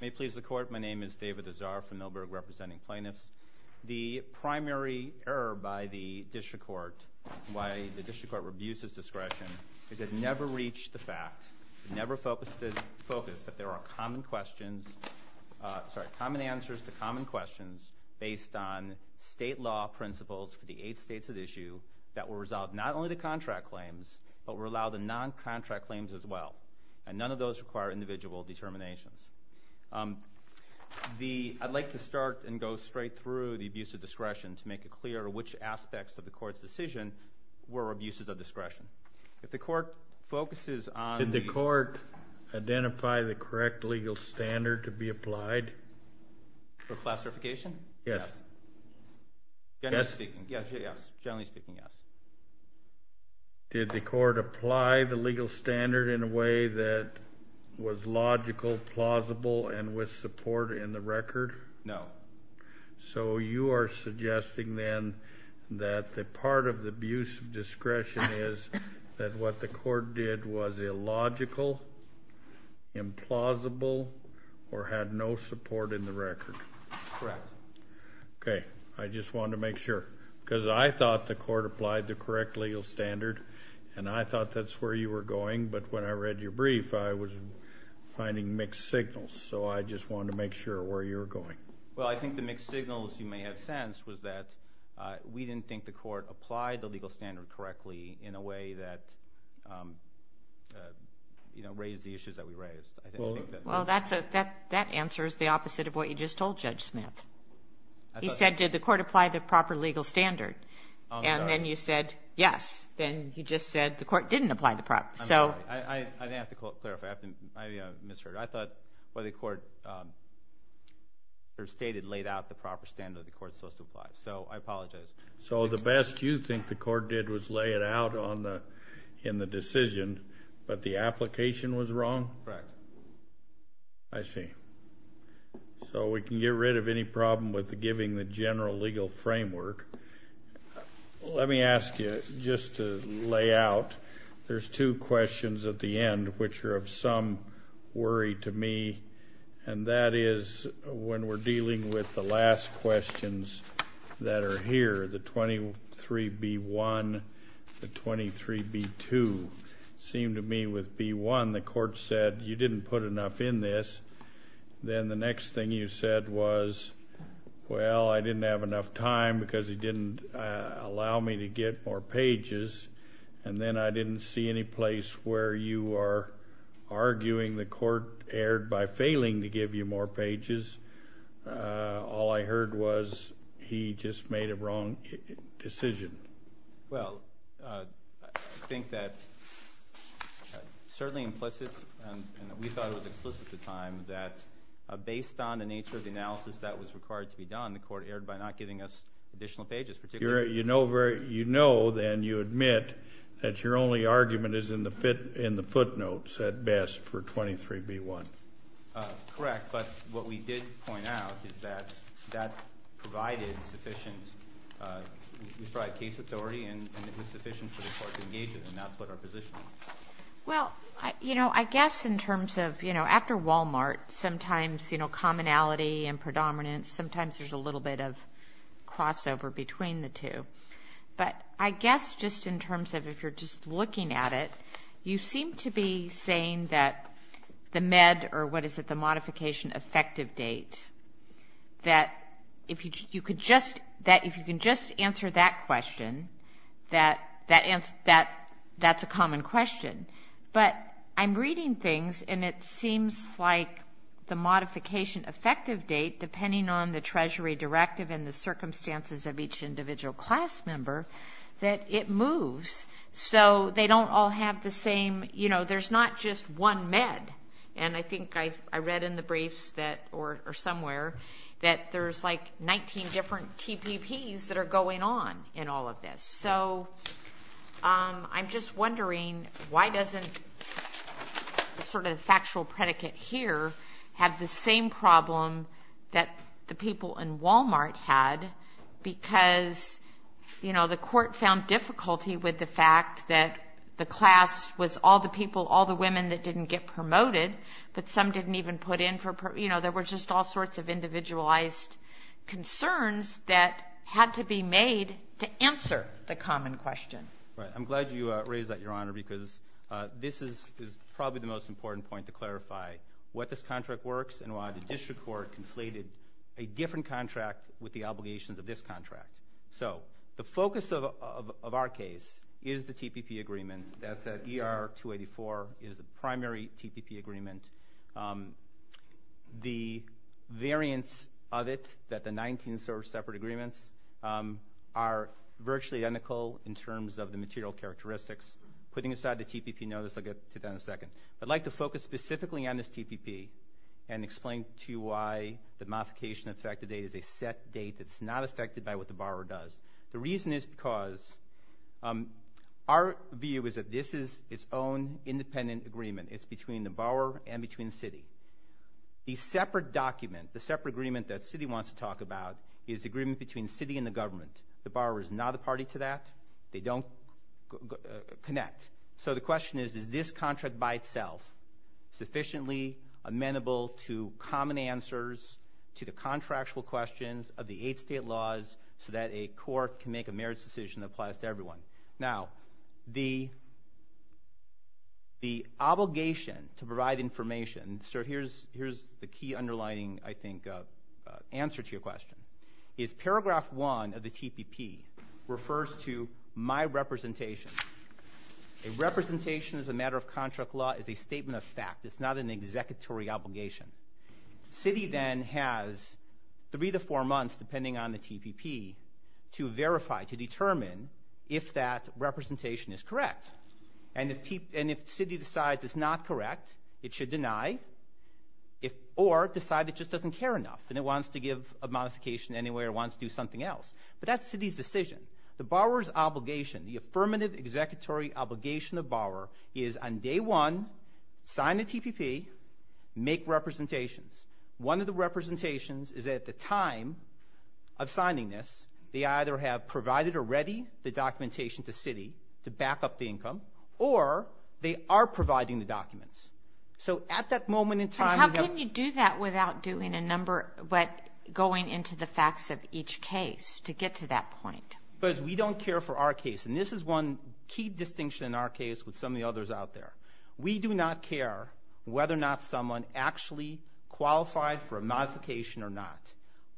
May it please the Court, my name is David Azar from Millburg representing plaintiffs. The primary error by the District Court, why the District Court rebused its discretion, is it never reached the fact, never focused the focus that there are common questions, sorry, common answers to common questions based on state law principles for the eight states at issue that will resolve not only the contract claims, but will allow the non-contract claims as well. And none of those require individual determinations. The, I'd like to start and go straight through the abuse of discretion to make it clear which aspects of the Court's decision were abuses of discretion. If the Court focuses on... Did the Court identify the correct legal standard to be applied? For classification? Yes. Generally speaking, yes. Generally speaking, yes. Did the Court apply the legal standard in a way that was logical, plausible, and with support in the record? No. So you are suggesting then that the part of the abuse of discretion is that what the Court did was illogical, implausible, or had no support in the record? Correct. Okay, I just wanted to make sure, because I thought the Court applied the correct legal standard, and I thought that's where you were going, but when I read your brief, I was finding mixed signals. So I just wanted to make sure where you're going. Well, I think the mixed signals, you may have sensed, was that we didn't think the Court applied the legal standard correctly in a way that, you know, raised the issues that we raised. Well, that answers the opposite of what you said, that the Court didn't apply the proper legal standard. And then you said, yes. Then you just said the Court didn't apply the proper... I didn't have to clarify. I misheard. I thought what the Court stated laid out the proper standard the Court's supposed to apply. So I apologize. So the best you think the Court did was lay it out in the decision, but the application was wrong? Correct. I see. So we can get rid of any legal framework. Let me ask you, just to lay out, there's two questions at the end which are of some worry to me, and that is when we're dealing with the last questions that are here, the 23B1, the 23B2. It seemed to me with B1, the Court said you didn't put enough in this. Then the next thing you said was, well, I didn't have enough time because he didn't allow me to get more pages. And then I didn't see any place where you are arguing the Court erred by failing to give you more pages. All I heard was he just made a wrong decision. Well, I think that certainly implicit, and we thought it was implicit at the time, that based on the nature of the argument that was to be done, the Court erred by not giving us additional pages. You know then you admit that your only argument is in the footnotes at best for 23B1. Correct, but what we did point out is that that provided sufficient case authority and it was sufficient for the Court to engage with him. That's what our position is. Well, you know, I guess in terms of, you know, after Walmart, sometimes, you know, there's a little bit of crossover between the two. But I guess just in terms of if you're just looking at it, you seem to be saying that the Med, or what is it, the modification effective date, that if you can just answer that question, that's a common question. But I'm reading things and it seems like the modification effective date, depending on the Treasury directive and the circumstances of each individual class member, that it moves. So they don't all have the same, you know, there's not just one Med. And I think I read in the briefs that, or somewhere, that there's like 19 different TPPs that are going on in all of this. So I'm just wondering why doesn't sort of the factual predicate here have the same problem that the people in Walmart had because, you know, the Court found difficulty with the fact that the class was all the people, all the women that didn't get promoted, but some didn't even put in for, you know, there were just all sorts of individualized concerns that had to be made to answer the common question. Right. I'm glad you raised that, Your Honor, because this is probably the most important point to clarify what this contract works and why the district court conflated a different contract with the obligations of this contract. So the focus of our case is the TPP agreement. That's at ER-284. It is a primary TPP agreement. The variance of it, that the 19 sort of separate agreements, are virtually identical in terms of the material characteristics. Putting aside the TPP notice, I'll get to that in a second. I'd like to focus specifically on this TPP and explain to you why the modification effective date is a set date that's not affected by what the borrower does. The reason is because our view is that this is its own independent agreement. It's between the borrower and between the city. The separate document, the separate agreement that the city wants to talk about is the agreement between the city and the government. The borrower is not a party to that. They don't connect. So the question is, is this contract by itself sufficiently amenable to common answers to the contractual questions of the eight state laws so that a court can make a merits decision that applies to everyone? Now, the obligation to provide information, and so here's the key underlining, I think, answer to your question, is paragraph one of the TPP refers to my representation. A representation as a matter of contract law is a statement of fact. It's not an executory obligation. The city then has three to four months, depending on the TPP, to verify, to determine if that representation is correct. And if the city decides it's not correct, it should deny or decide it just doesn't care enough and it wants to give a modification anyway or wants to do something else. But that's the city's decision. The borrower's obligation, the affirmative executory obligation of borrower is on day one, sign the TPP, make representations. One of the representations is at the time of signing this, they either have provided or ready the documentation to city to back up the income, or they are providing the documents. So at that moment in time... But how can you do that without doing a number, but going into the facts of each case to get to that point? Because we don't care for our case, and this is one key distinction in our case with some of the others out there. We do not care whether or not someone actually qualified for a modification or not.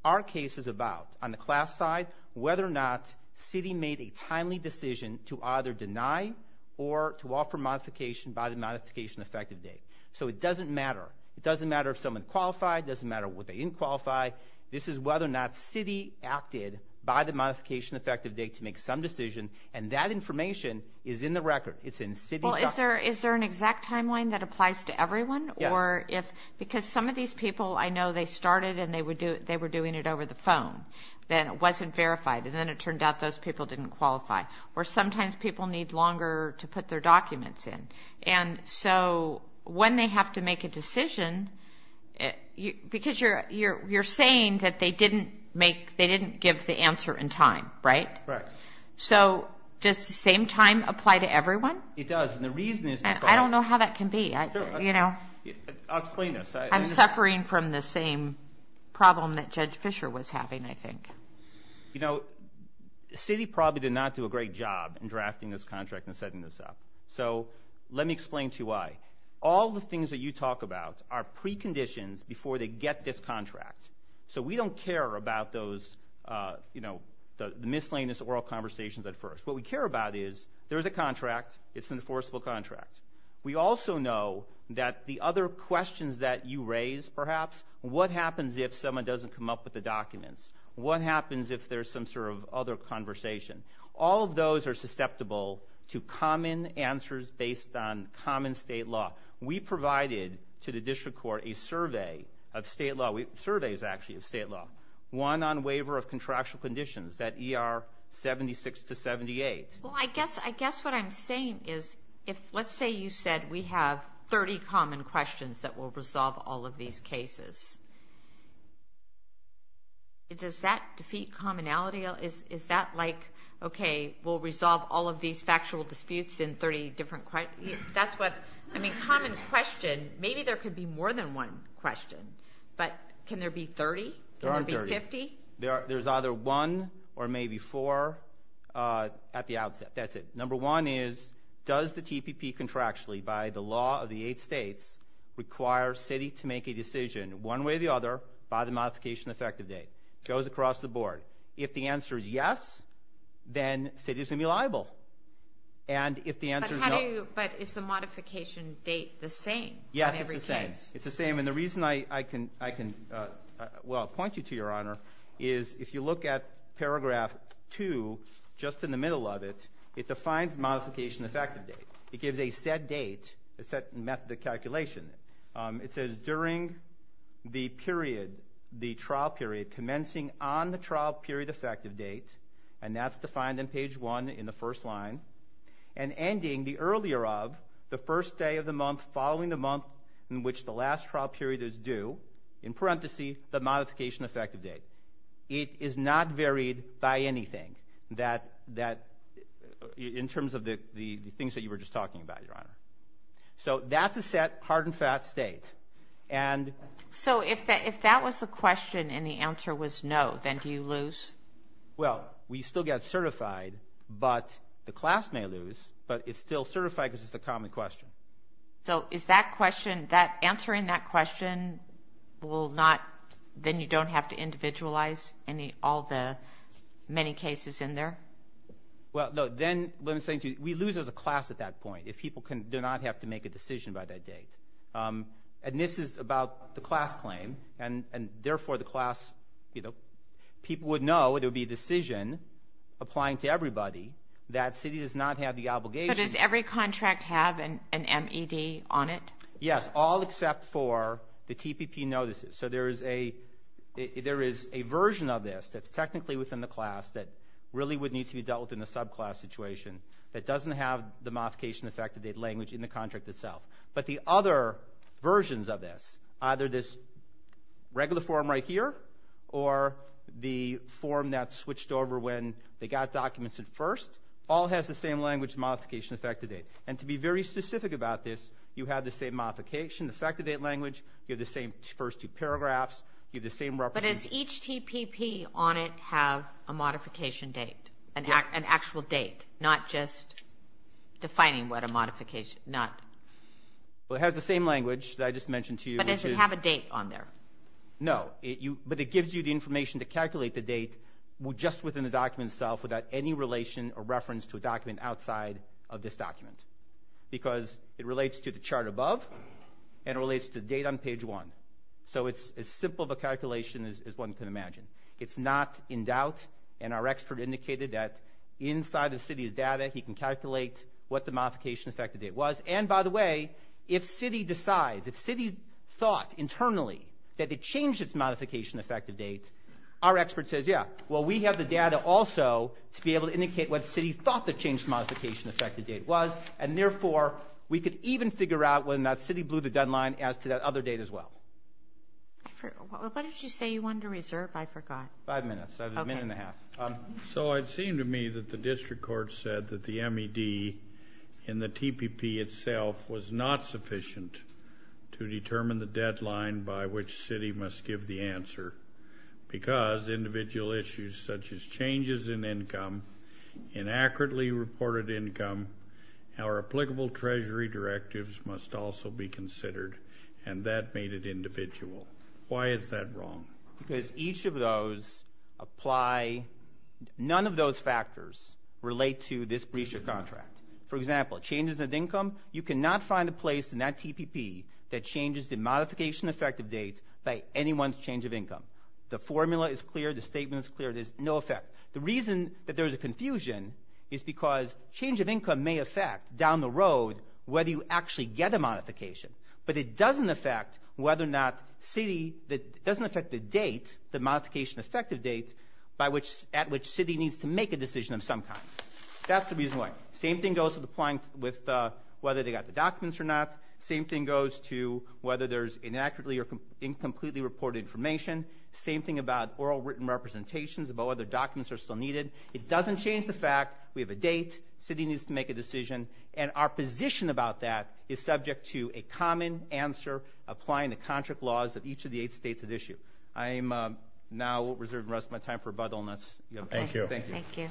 Our case is about, on the class side, whether or not city made a timely decision to either deny or to offer modification by the modification effective date. So it doesn't matter. It doesn't matter if someone qualified. It doesn't matter what they didn't qualify. This is whether or not city acted by the modification effective date to make some decision, and that information is in the record. Is there an exact timeline that applies to everyone? Yes. Because some of these people, I know they started and they were doing it over the phone. Then it wasn't verified, and then it turned out those people didn't qualify. Or sometimes people need longer to put their documents in. And so when they have to make a decision, because you're saying that they didn't give the answer in time, right? Right. So does the same time apply to everyone? It does, and the reason is because- I don't know how that can be. I'll explain this. I'm suffering from the same problem that Judge Fischer was having, I think. You know, the city probably did not do a great job in drafting this contract and setting this up. So let me explain to you why. All the things that you talk about are preconditions before they get this contract. So we don't care about those, you know, the miscellaneous oral conversations at first. What we care about is there's a contract, it's an enforceable contract. We also know that the other questions that you raise, perhaps, what happens if someone doesn't come up with the documents? What happens if there's some sort of other conversation? All of those are susceptible to common answers based on common state law. We provided to the district court a survey of state law. Surveys, actually, of state law. One on waiver of contractual conditions, that ER 76 to 78. Well, I guess what I'm saying is if let's say you said we have 30 common questions that will resolve all of these cases. Does that defeat commonality? Is that like, okay, we'll resolve all of these factual disputes in 30 different questions? That's what, I mean, common question, maybe there could be more than one question. But can there be 30? There aren't 30. Can there be 50? There's either one or maybe four at the outset. That's it. Number one is, does the TPP contractually, by the law of the eight states, require city to make a decision one way or the other by the modification effective date? Goes across the board. If the answer is yes, then city is going to be liable. And if the answer is no. But is the modification date the same in every case? Yes, it's the same. It's the same, and the reason I can well point you to, Your Honor, is if you look at paragraph two, just in the middle of it, it defines modification effective date. It gives a set date, a set method of calculation. It says during the period, the trial period, commencing on the trial period effective date, and that's defined in page one in the first line, and ending the earlier of the first day of the month following the month in which the last trial period is due, in parentheses, the modification effective date. It is not varied by anything in terms of the things that you were just talking about, Your Honor. So that's a set, hard and fast date. So if that was the question and the answer was no, then do you lose? Well, we still get certified, but the class may lose, but it's still certified because it's a common question. So is that question, answering that question will not, then you don't have to individualize all the many cases in there? Well, no, then let me say to you, we lose as a class at that point if people do not have to make a decision by that date. And this is about the class claim, and therefore, the class, you know, people would know it would be a decision applying to everybody. That city does not have the obligation. So does every contract have an MED on it? Yes, all except for the TPP notices. So there is a version of this that's technically within the class that really would need to be dealt with in a subclass situation that doesn't have the modification effective date language in the contract itself. But the other versions of this, either this regular form right here, or the form that switched over when they got documents at first, all has the same language modification effective date. And to be very specific about this, you have the same modification effective date language. You have the same first two paragraphs. You have the same representation. But does each TPP on it have a modification date, an actual date, not just defining what a modification, not? Well, it has the same language that I just mentioned to you. But does it have a date on there? No, but it gives you the information to calculate the date just within the document itself without any relation or reference to a document outside of this document because it relates to the chart above and it relates to the date on page one. So it's as simple of a calculation as one can imagine. It's not in doubt. And our expert indicated that inside of Citi's data he can calculate what the modification effective date was. And, by the way, if Citi decides, if Citi thought internally that it changed its modification effective date, our expert says, yeah, well, we have the data also to be able to indicate what Citi thought the changed modification effective date was. And, therefore, we could even figure out when that Citi blew the deadline as to that other date as well. What did you say you wanted to reserve? I forgot. Five minutes. A minute and a half. So it seemed to me that the district court said that the MED in the TPP itself was not sufficient to determine the deadline by which Citi must give the answer because individual issues such as changes in income, inaccurately reported income, our applicable treasury directives must also be considered. And that made it individual. Why is that wrong? Because each of those apply. None of those factors relate to this breach of contract. For example, changes of income, you cannot find a place in that TPP that changes the modification effective date by anyone's change of income. The formula is clear. The statement is clear. There's no effect. The reason that there's a confusion is because change of income may affect down the road whether you actually get a modification, but it doesn't affect whether or not Citi doesn't affect the date, the modification effective date, at which Citi needs to make a decision of some kind. That's the reason why. Same thing goes with whether they got the documents or not. Same thing goes to whether there's inaccurately or incompletely reported information. Same thing about oral written representations, about whether documents are still needed. It doesn't change the fact we have a date, Citi needs to make a decision, and our position about that is subject to a common answer applying the contract laws of each of the eight states at issue. I am now reserving the rest of my time for buttleness. Thank you. Thank you.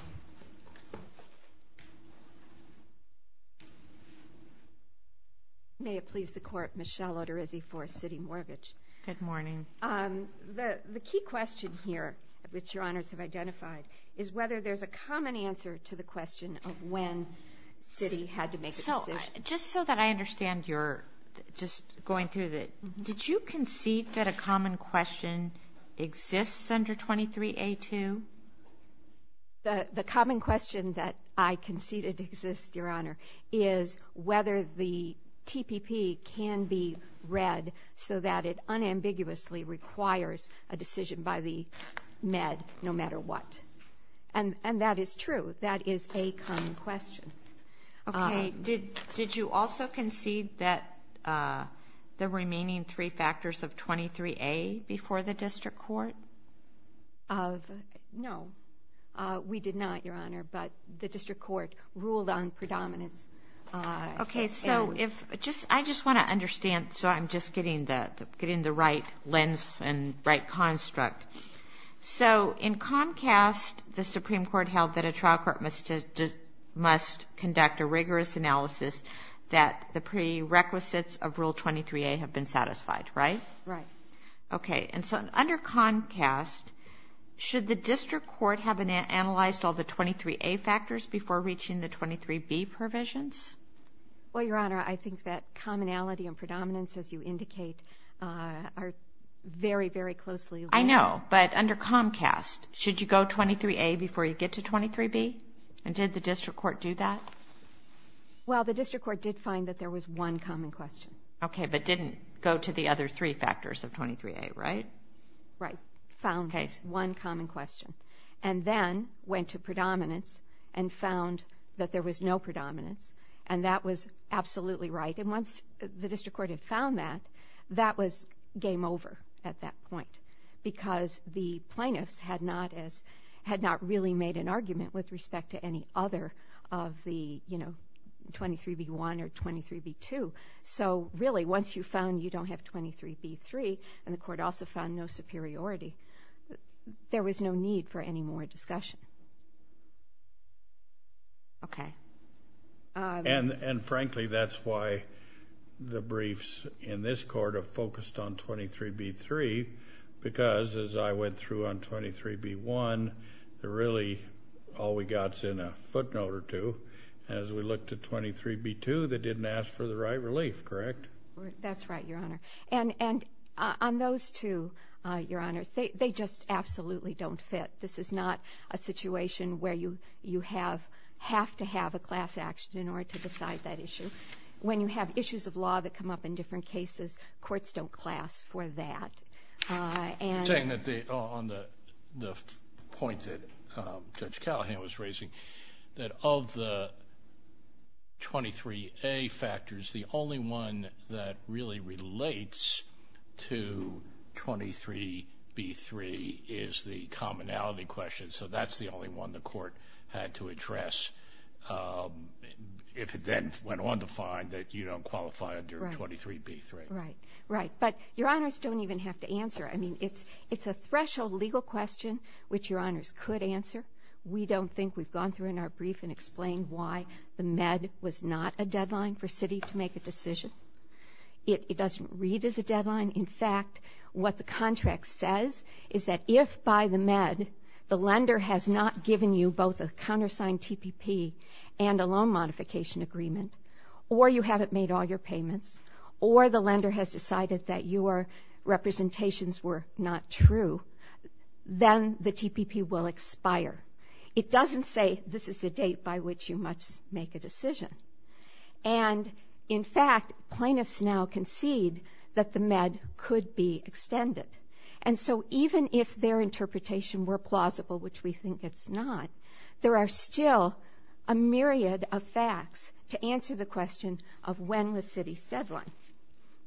May it please the Court, Michelle Oterizzi for Citi Mortgage. Good morning. Good morning. The key question here, which Your Honors have identified, is whether there's a common answer to the question of when Citi had to make a decision. Just so that I understand, just going through, did you concede that a common question exists under 23A2? The common question that I conceded exists, Your Honor, is whether the TPP can be read so that it unambiguously requires a decision by the Med no matter what. And that is true. That is a common question. Okay. Did you also concede that the remaining three factors of 23A before the district court? No, we did not, Your Honor, but the district court ruled on predominance. Okay. So I just want to understand, so I'm just getting the right lens and right construct. So in Comcast, the Supreme Court held that a trial court must conduct a rigorous analysis that the prerequisites of Rule 23A have been satisfied, right? Right. Okay. And so under Comcast, should the district court have analyzed all the 23A factors before reaching the 23B provisions? Well, Your Honor, I think that commonality and predominance, as you indicate, are very, very closely linked. I know, but under Comcast, should you go 23A before you get to 23B? And did the district court do that? Well, the district court did find that there was one common question. Okay, but didn't go to the other three factors of 23A, right? Right. Found one common question. And then went to predominance and found that there was no predominance, and that was absolutely right. And once the district court had found that, that was game over at that point because the plaintiffs had not really made an argument with respect to any other of the 23B1 or 23B2. So really, once you found you don't have 23B3, and the court also found no superiority, there was no need for any more discussion. Okay. And frankly, that's why the briefs in this court are focused on 23B3 because as I went through on 23B1, really all we got is in a footnote or two. And as we looked at 23B2, they didn't ask for the right relief, correct? That's right, Your Honor. And on those two, Your Honor, they just absolutely don't fit. This is not a situation where you have to have a class action in order to decide that issue. When you have issues of law that come up in different cases, courts don't class for that. You're saying that on the point that Judge Callahan was raising, that of the 23A factors, the only one that really relates to 23B3 is the commonality question. So that's the only one the court had to address if it then went on to find that you don't qualify under 23B3. Right, right. But Your Honors don't even have to answer. I mean, it's a threshold legal question which Your Honors could answer. We don't think we've gone through in our brief and explained why the MED was not a deadline for Citi to make a decision. It doesn't read as a deadline. In fact, what the contract says is that if by the MED, the lender has not given you both a countersigned TPP and a loan modification agreement, or you haven't made all your payments, or the lender has decided that your representations were not true, then the TPP will expire. It doesn't say this is the date by which you must make a decision. And in fact, plaintiffs now concede that the MED could be extended. And so even if their interpretation were plausible, which we think it's not, there are still a myriad of facts to answer the question of when was Citi's deadline.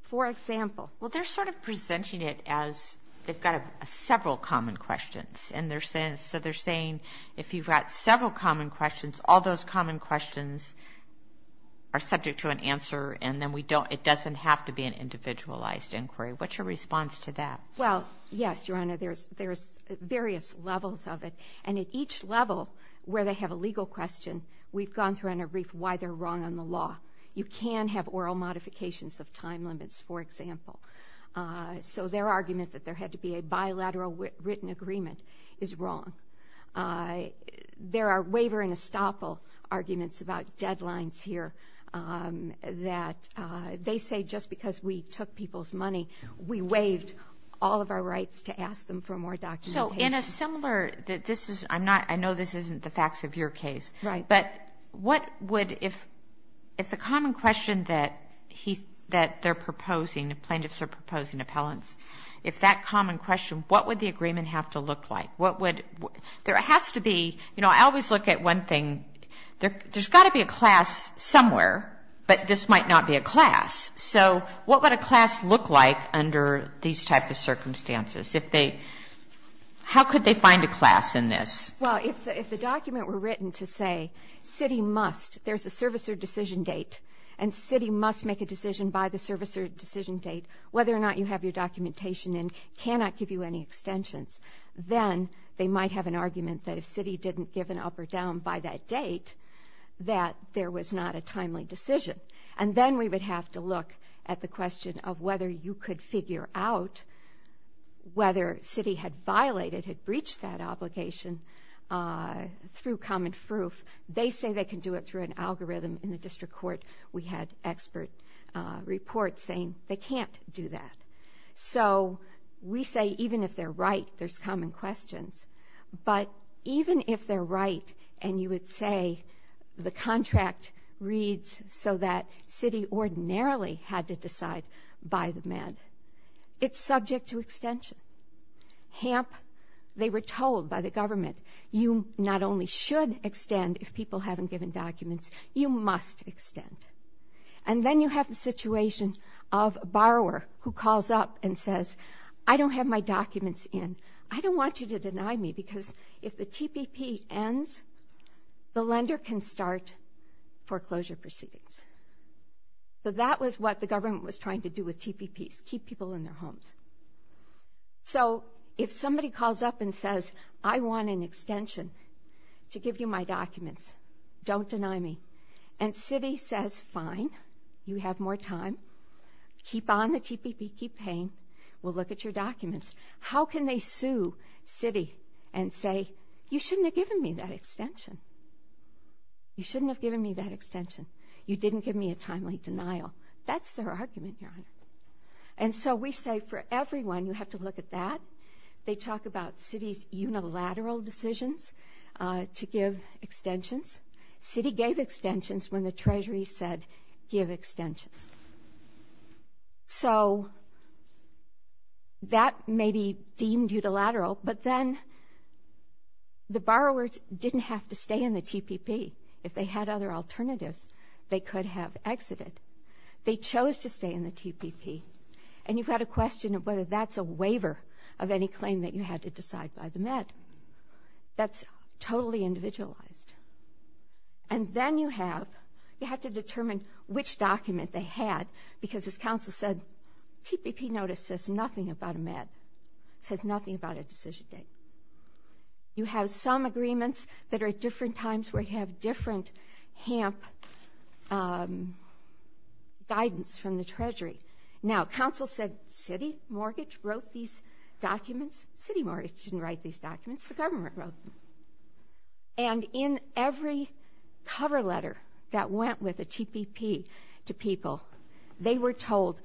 For example. Well, they're sort of presenting it as they've got several common questions. And so they're saying if you've got several common questions, all those common questions are subject to an answer, and then it doesn't have to be an individualized inquiry. What's your response to that? Well, yes, Your Honor, there's various levels of it. And at each level where they have a legal question, we've gone through and aggrieved why they're wrong on the law. You can have oral modifications of time limits, for example. So their argument that there had to be a bilateral written agreement is wrong. There are waiver and estoppel arguments about deadlines here that they say just because we took people's money, we waived all of our rights to ask them for more documentation. So in a similar, this is, I'm not, I know this isn't the facts of your case. Right. But what would, if it's a common question that they're proposing, the plaintiffs are proposing appellants, if that common question, what would the agreement have to look like? What would, there has to be, you know, I always look at one thing. There's got to be a class somewhere, but this might not be a class. So what would a class look like under these type of circumstances? If they, how could they find a class in this? Well, if the document were written to say city must, there's a service or decision date, and city must make a decision by the service or decision date, whether or not you have your documentation in, cannot give you any extensions, then they might have an argument that if city didn't give an up or down by that date, that there was not a timely decision. And then we would have to look at the question of whether you could figure out whether city had violated, had breached that obligation through common proof. They say they can do it through an algorithm in the district court. We had expert reports saying they can't do that. So we say even if they're right, there's common questions. But even if they're right and you would say the contract reads so that city ordinarily had to decide by the med, it's subject to extension. Hamp, they were told by the government, you not only should extend if people haven't given documents, you must extend. And then you have the situation of a borrower who calls up and says, I don't have my documents in. I don't want you to deny me because if the TPP ends, the lender can start foreclosure proceedings. So that was what the government was trying to do with TPPs, keep people in their homes. So if somebody calls up and says, I want an extension to give you my documents, don't deny me, and city says, fine, you have more time, keep on the TPP, keep paying, we'll look at your documents. How can they sue city and say, you shouldn't have given me that extension? You shouldn't have given me that extension. You didn't give me a timely denial. That's their argument, Your Honor. And so we say for everyone, you have to look at that. They talk about city's unilateral decisions to give extensions. City gave extensions when the Treasury said give extensions. So that may be deemed unilateral, but then the borrower didn't have to stay in the TPP. If they had other alternatives, they could have exited. They chose to stay in the TPP, and you've got a question of whether that's a waiver of any claim that you had to decide by the Met. That's totally individualized. And then you have to determine which document they had because, as counsel said, TPP notice says nothing about a Met, says nothing about a decision date. You have some agreements that are at different times where you have different HAMP guidance from the Treasury. Now, counsel said city mortgage wrote these documents. City mortgage didn't write these documents. The government wrote them. And in every cover letter that went with a TPP to people, they were told,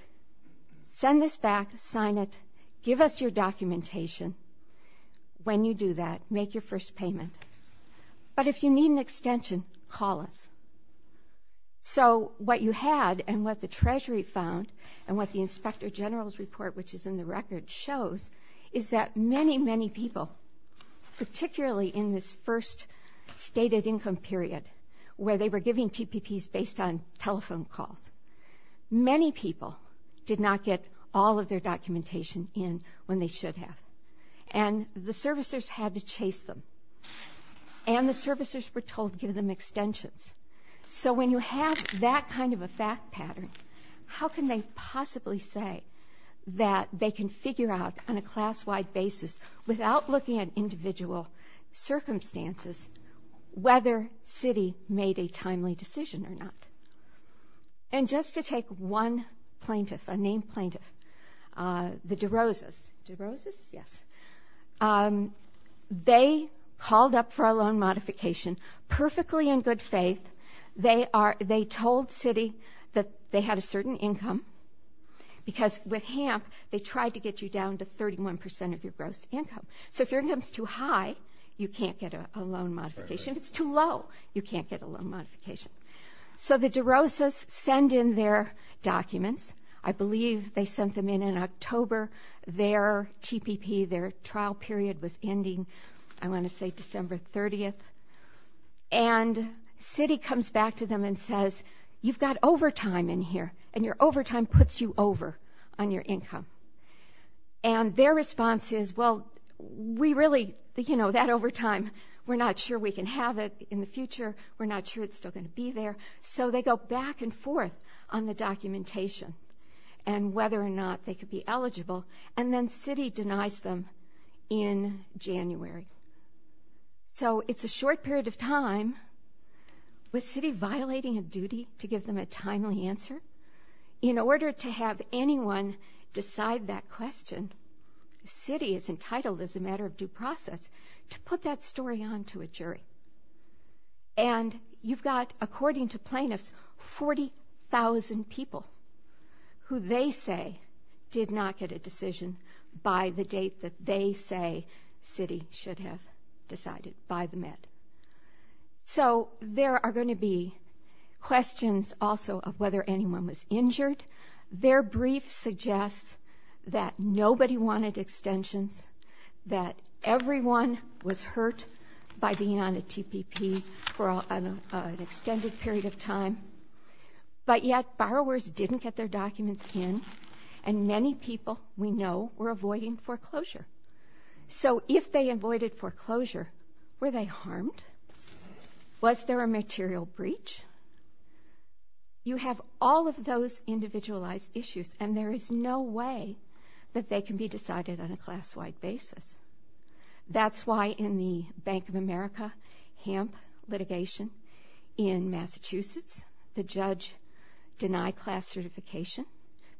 send this back, sign it, give us your documentation. When you do that, make your first payment. But if you need an extension, call us. So what you had and what the Treasury found and what the Inspector General's report, which is in the record, shows is that many, many people, particularly in this first stated income period where they were giving TPPs based on telephone calls, many people did not get all of their documentation in when they should have. And the servicers had to chase them. And the servicers were told to give them extensions. So when you have that kind of a fact pattern, how can they possibly say that they can figure out on a class-wide basis, without looking at individual circumstances, whether city made a timely decision or not? And just to take one plaintiff, a named plaintiff, the DeRosas, DeRosas, yes, they called up for a loan modification perfectly in good faith. They told city that they had a certain income because with HAMP, they tried to get you down to 31 percent of your gross income. So if your income is too high, you can't get a loan modification. If it's too low, you can't get a loan modification. So the DeRosas send in their documents. I believe they sent them in in October. Their TPP, their trial period was ending, I want to say, December 30th. And city comes back to them and says, you've got overtime in here, and your overtime puts you over on your income. And their response is, well, we really, you know, that overtime, we're not sure we can have it in the future. We're not sure it's still going to be there. So they go back and forth on the documentation and whether or not they could be eligible, and then city denies them in January. So it's a short period of time with city violating a duty to give them a timely answer. In order to have anyone decide that question, city is entitled as a matter of due process to put that story on to a jury. And you've got, according to plaintiffs, 40,000 people who they say did not get a decision by the date that they say city should have decided by the Met. So there are going to be questions also of whether anyone was injured. Their brief suggests that nobody wanted extensions, that everyone was hurt by being on a TPP for an extended period of time, but yet borrowers didn't get their documents in, and many people we know were avoiding foreclosure. So if they avoided foreclosure, were they harmed? Was there a material breach? You have all of those individualized issues, and there is no way that they can be decided on a class-wide basis. That's why in the Bank of America HAMP litigation in Massachusetts, the judge denied class certification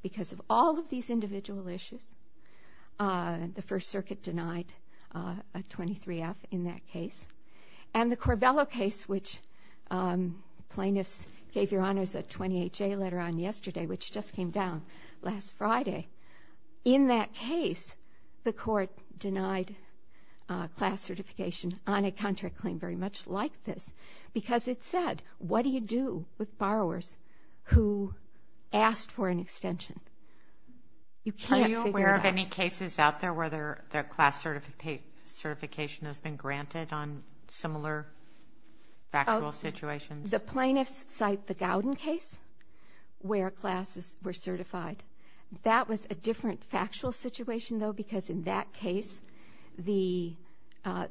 because of all of these individual issues. The First Circuit denied a 23-F in that case. And the Corvello case, which plaintiffs gave Your Honors a 28-J letter on yesterday, which just came down last Friday, in that case the court denied class certification on a contract claim very much like this because it said, what do you do with borrowers who asked for an extension? You can't figure it out. Are you aware of any cases out there where the class certification has been granted on similar factual situations? The plaintiffs cite the Gowden case where classes were certified. That was a different factual situation, though, because in that case the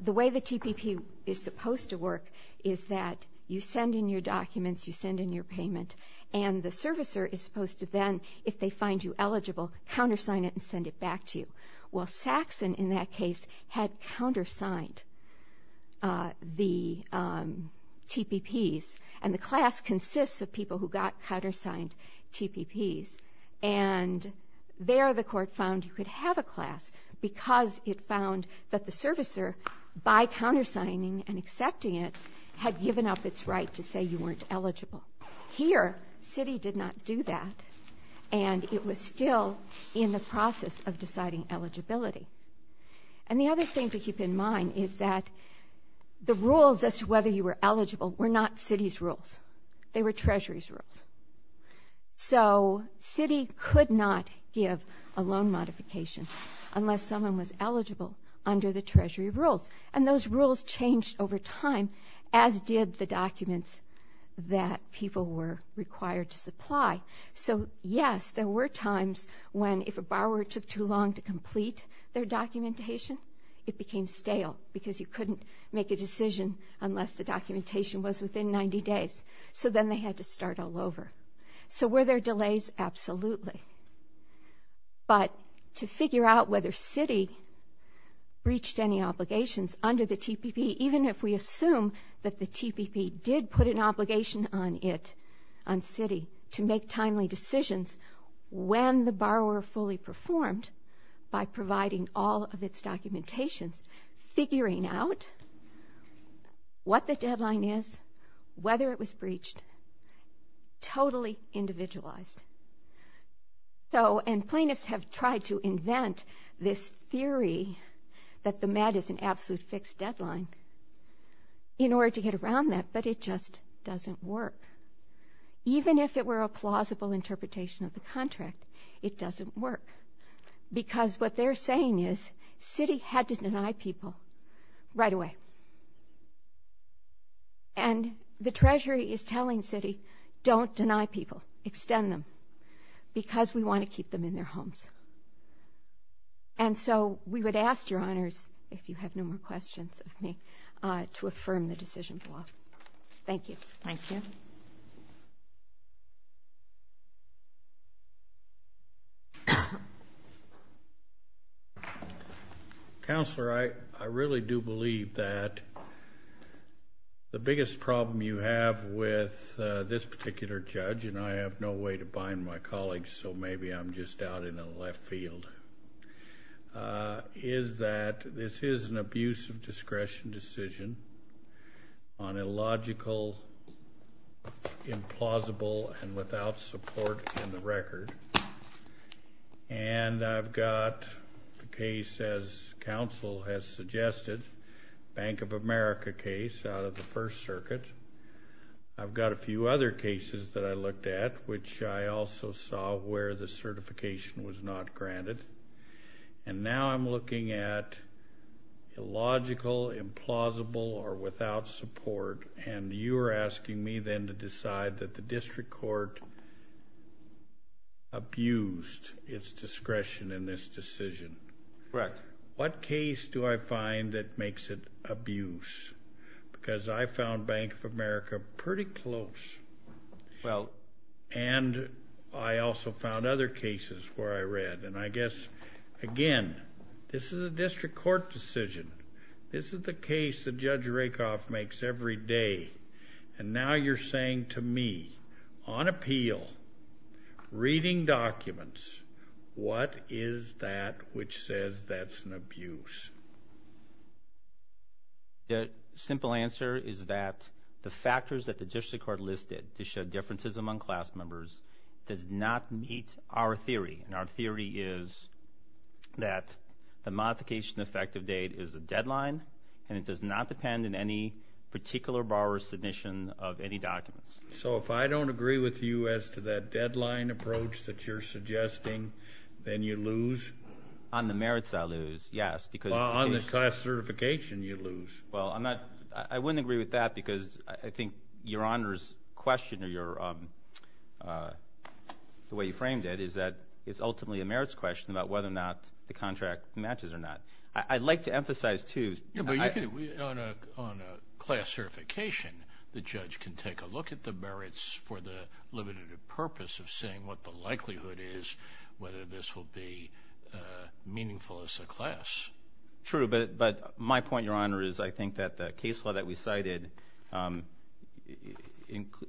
way the TPP is supposed to work is that you send in your documents, you send in your payment, and the servicer is supposed to then, if they find you eligible, countersign it and send it back to you. Well, Saxon in that case had countersigned the TPPs, and the class consists of people who got countersigned TPPs. And there the court found you could have a class because it found that the servicer, by countersigning and accepting it, had given up its right to say you weren't eligible. Here, Citi did not do that, and it was still in the process of deciding eligibility. And the other thing to keep in mind is that the rules as to whether you were eligible were not Citi's rules. They were Treasury's rules. So Citi could not give a loan modification unless someone was eligible under the Treasury rules, and those rules changed over time, as did the documents that people were required to supply. So, yes, there were times when if a borrower took too long to complete their documentation, it became stale because you couldn't make a decision unless the documentation was within 90 days. So then they had to start all over. So were there delays? Absolutely. But to figure out whether Citi reached any obligations under the TPP, even if we assume that the TPP did put an obligation on it, on Citi, to make timely decisions when the borrower fully performed by providing all of its documentations, figuring out what the deadline is, whether it was breached, totally individualized. So, and plaintiffs have tried to invent this theory that the MED is an absolute fixed deadline in order to get around that, but it just doesn't work. Even if it were a plausible interpretation of the contract, it doesn't work because what they're saying is Citi had to deny people right away. And the Treasury is telling Citi, don't deny people, extend them, because we want to keep them in their homes. And so we would ask your honors, if you have no more questions of me, to affirm the decision for law. Thank you. Thank you. Thank you. Counselor, I really do believe that the biggest problem you have with this particular judge, and I have no way to bind my colleagues, so maybe I'm just out in the left field, is that this is an abuse of discretion decision on a logical, implausible, and without support in the record. And I've got the case, as counsel has suggested, Bank of America case out of the First Circuit. I've got a few other cases that I looked at, which I also saw where the certification was not granted. And now I'm looking at illogical, implausible, or without support, and you are asking me then to decide that the district court abused its discretion in this decision. Correct. What case do I find that makes it abuse? Because I found Bank of America pretty close, and I also found other cases where I read. And I guess, again, this is a district court decision. This is the case that Judge Rakoff makes every day. And now you're saying to me, on appeal, reading documents, what is that which says that's an abuse? The simple answer is that the factors that the district court listed to show differences among class members does not meet our theory. And our theory is that the modification effective date is a deadline, and it does not depend on any particular borrower's submission of any documents. So if I don't agree with you as to that deadline approach that you're suggesting, then you lose? On the merits, I lose, yes. Well, on the class certification, you lose. Well, I wouldn't agree with that because I think Your Honor's question, or the way you framed it, is that it's ultimately a merits question about whether or not the contract matches or not. I'd like to emphasize, too. Yeah, but on a class certification, the judge can take a look at the merits for the limited purpose of seeing what the likelihood is, whether this will be meaningful as a class. True, but my point, Your Honor, is I think that the case law that we cited,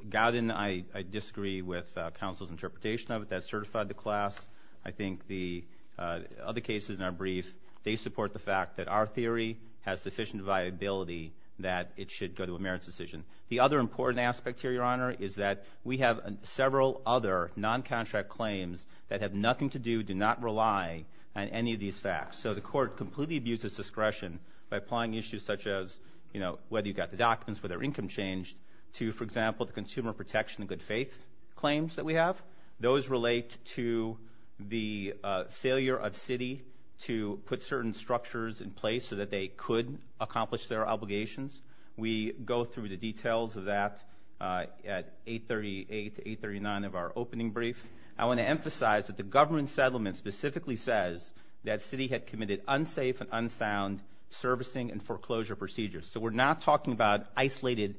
Godin, I disagree with counsel's interpretation of it. That certified the class. I think the other cases in our brief, they support the fact that our theory has sufficient viability that it should go to a merits decision. The other important aspect here, Your Honor, is that we have several other non-contract claims that have nothing to do, do not rely on any of these facts. So the court completely abuses discretion by applying issues such as, you know, whether you've got the documents, whether income changed, to, for example, the consumer protection and good faith claims that we have. Those relate to the failure of Citi to put certain structures in place so that they could accomplish their obligations. We go through the details of that at 838 to 839 of our opening brief. I want to emphasize that the government settlement specifically says that Citi had committed unsafe and unsound servicing and foreclosure procedures. So we're not talking about isolated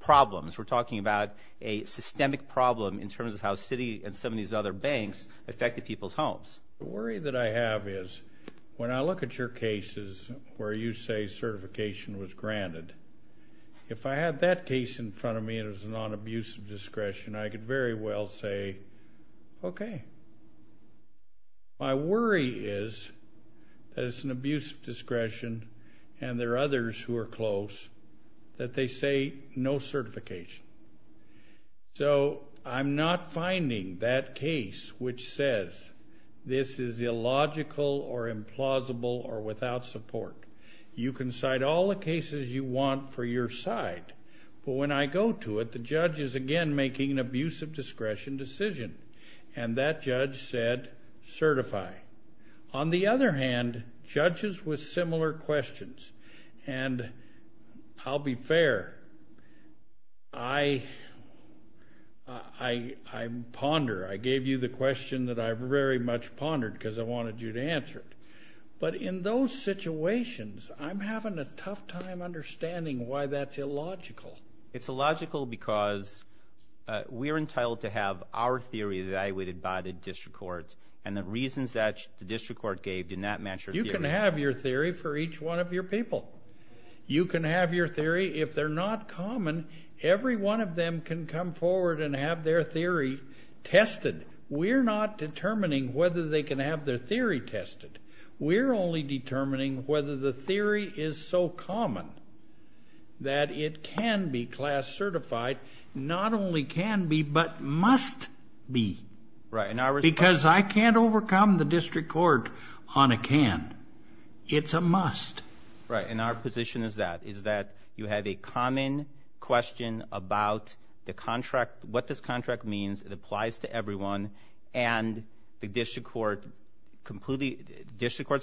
problems. We're talking about a systemic problem in terms of how Citi and some of these other banks affected people's homes. The worry that I have is when I look at your cases where you say certification was granted, if I had that case in front of me and it was a non-abusive discretion, I could very well say, okay. My worry is that it's an abusive discretion and there are others who are close that they say no certification. So I'm not finding that case which says this is illogical or implausible or without support. You can cite all the cases you want for your side, but when I go to it, the judge is again making an abusive discretion decision, and that judge said certify. On the other hand, judges with similar questions, and I'll be fair, I ponder. I gave you the question that I very much pondered because I wanted you to answer it. But in those situations, I'm having a tough time understanding why that's illogical. It's illogical because we're entitled to have our theory evaluated by the district court, and the reasons that the district court gave do not match your theory. You can have your theory for each one of your people. You can have your theory. If they're not common, every one of them can come forward and have their theory tested. We're not determining whether they can have their theory tested. We're only determining whether the theory is so common that it can be class certified, not only can be but must be because I can't overcome the district court on a can. It's a must. Right, and our position is that, is that you have a common question about the contract, what this contract means, it applies to everyone, and the district court's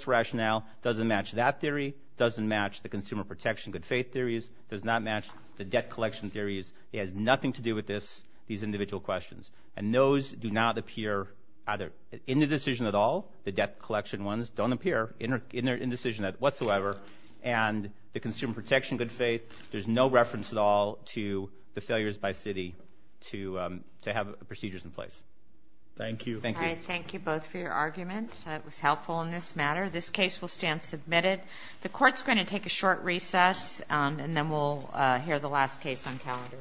rationale doesn't match that theory, doesn't match the consumer protection good faith theories, does not match the debt collection theories. It has nothing to do with these individual questions, and those do not appear either in the decision at all, the debt collection ones don't appear in the decision whatsoever, and the consumer protection good faith, there's no reference at all to the failures by city to have procedures in place. Thank you. All right, thank you both for your argument. It was helpful in this matter. This case will stand submitted. The court's going to take a short recess, and then we'll hear the last case on calendar.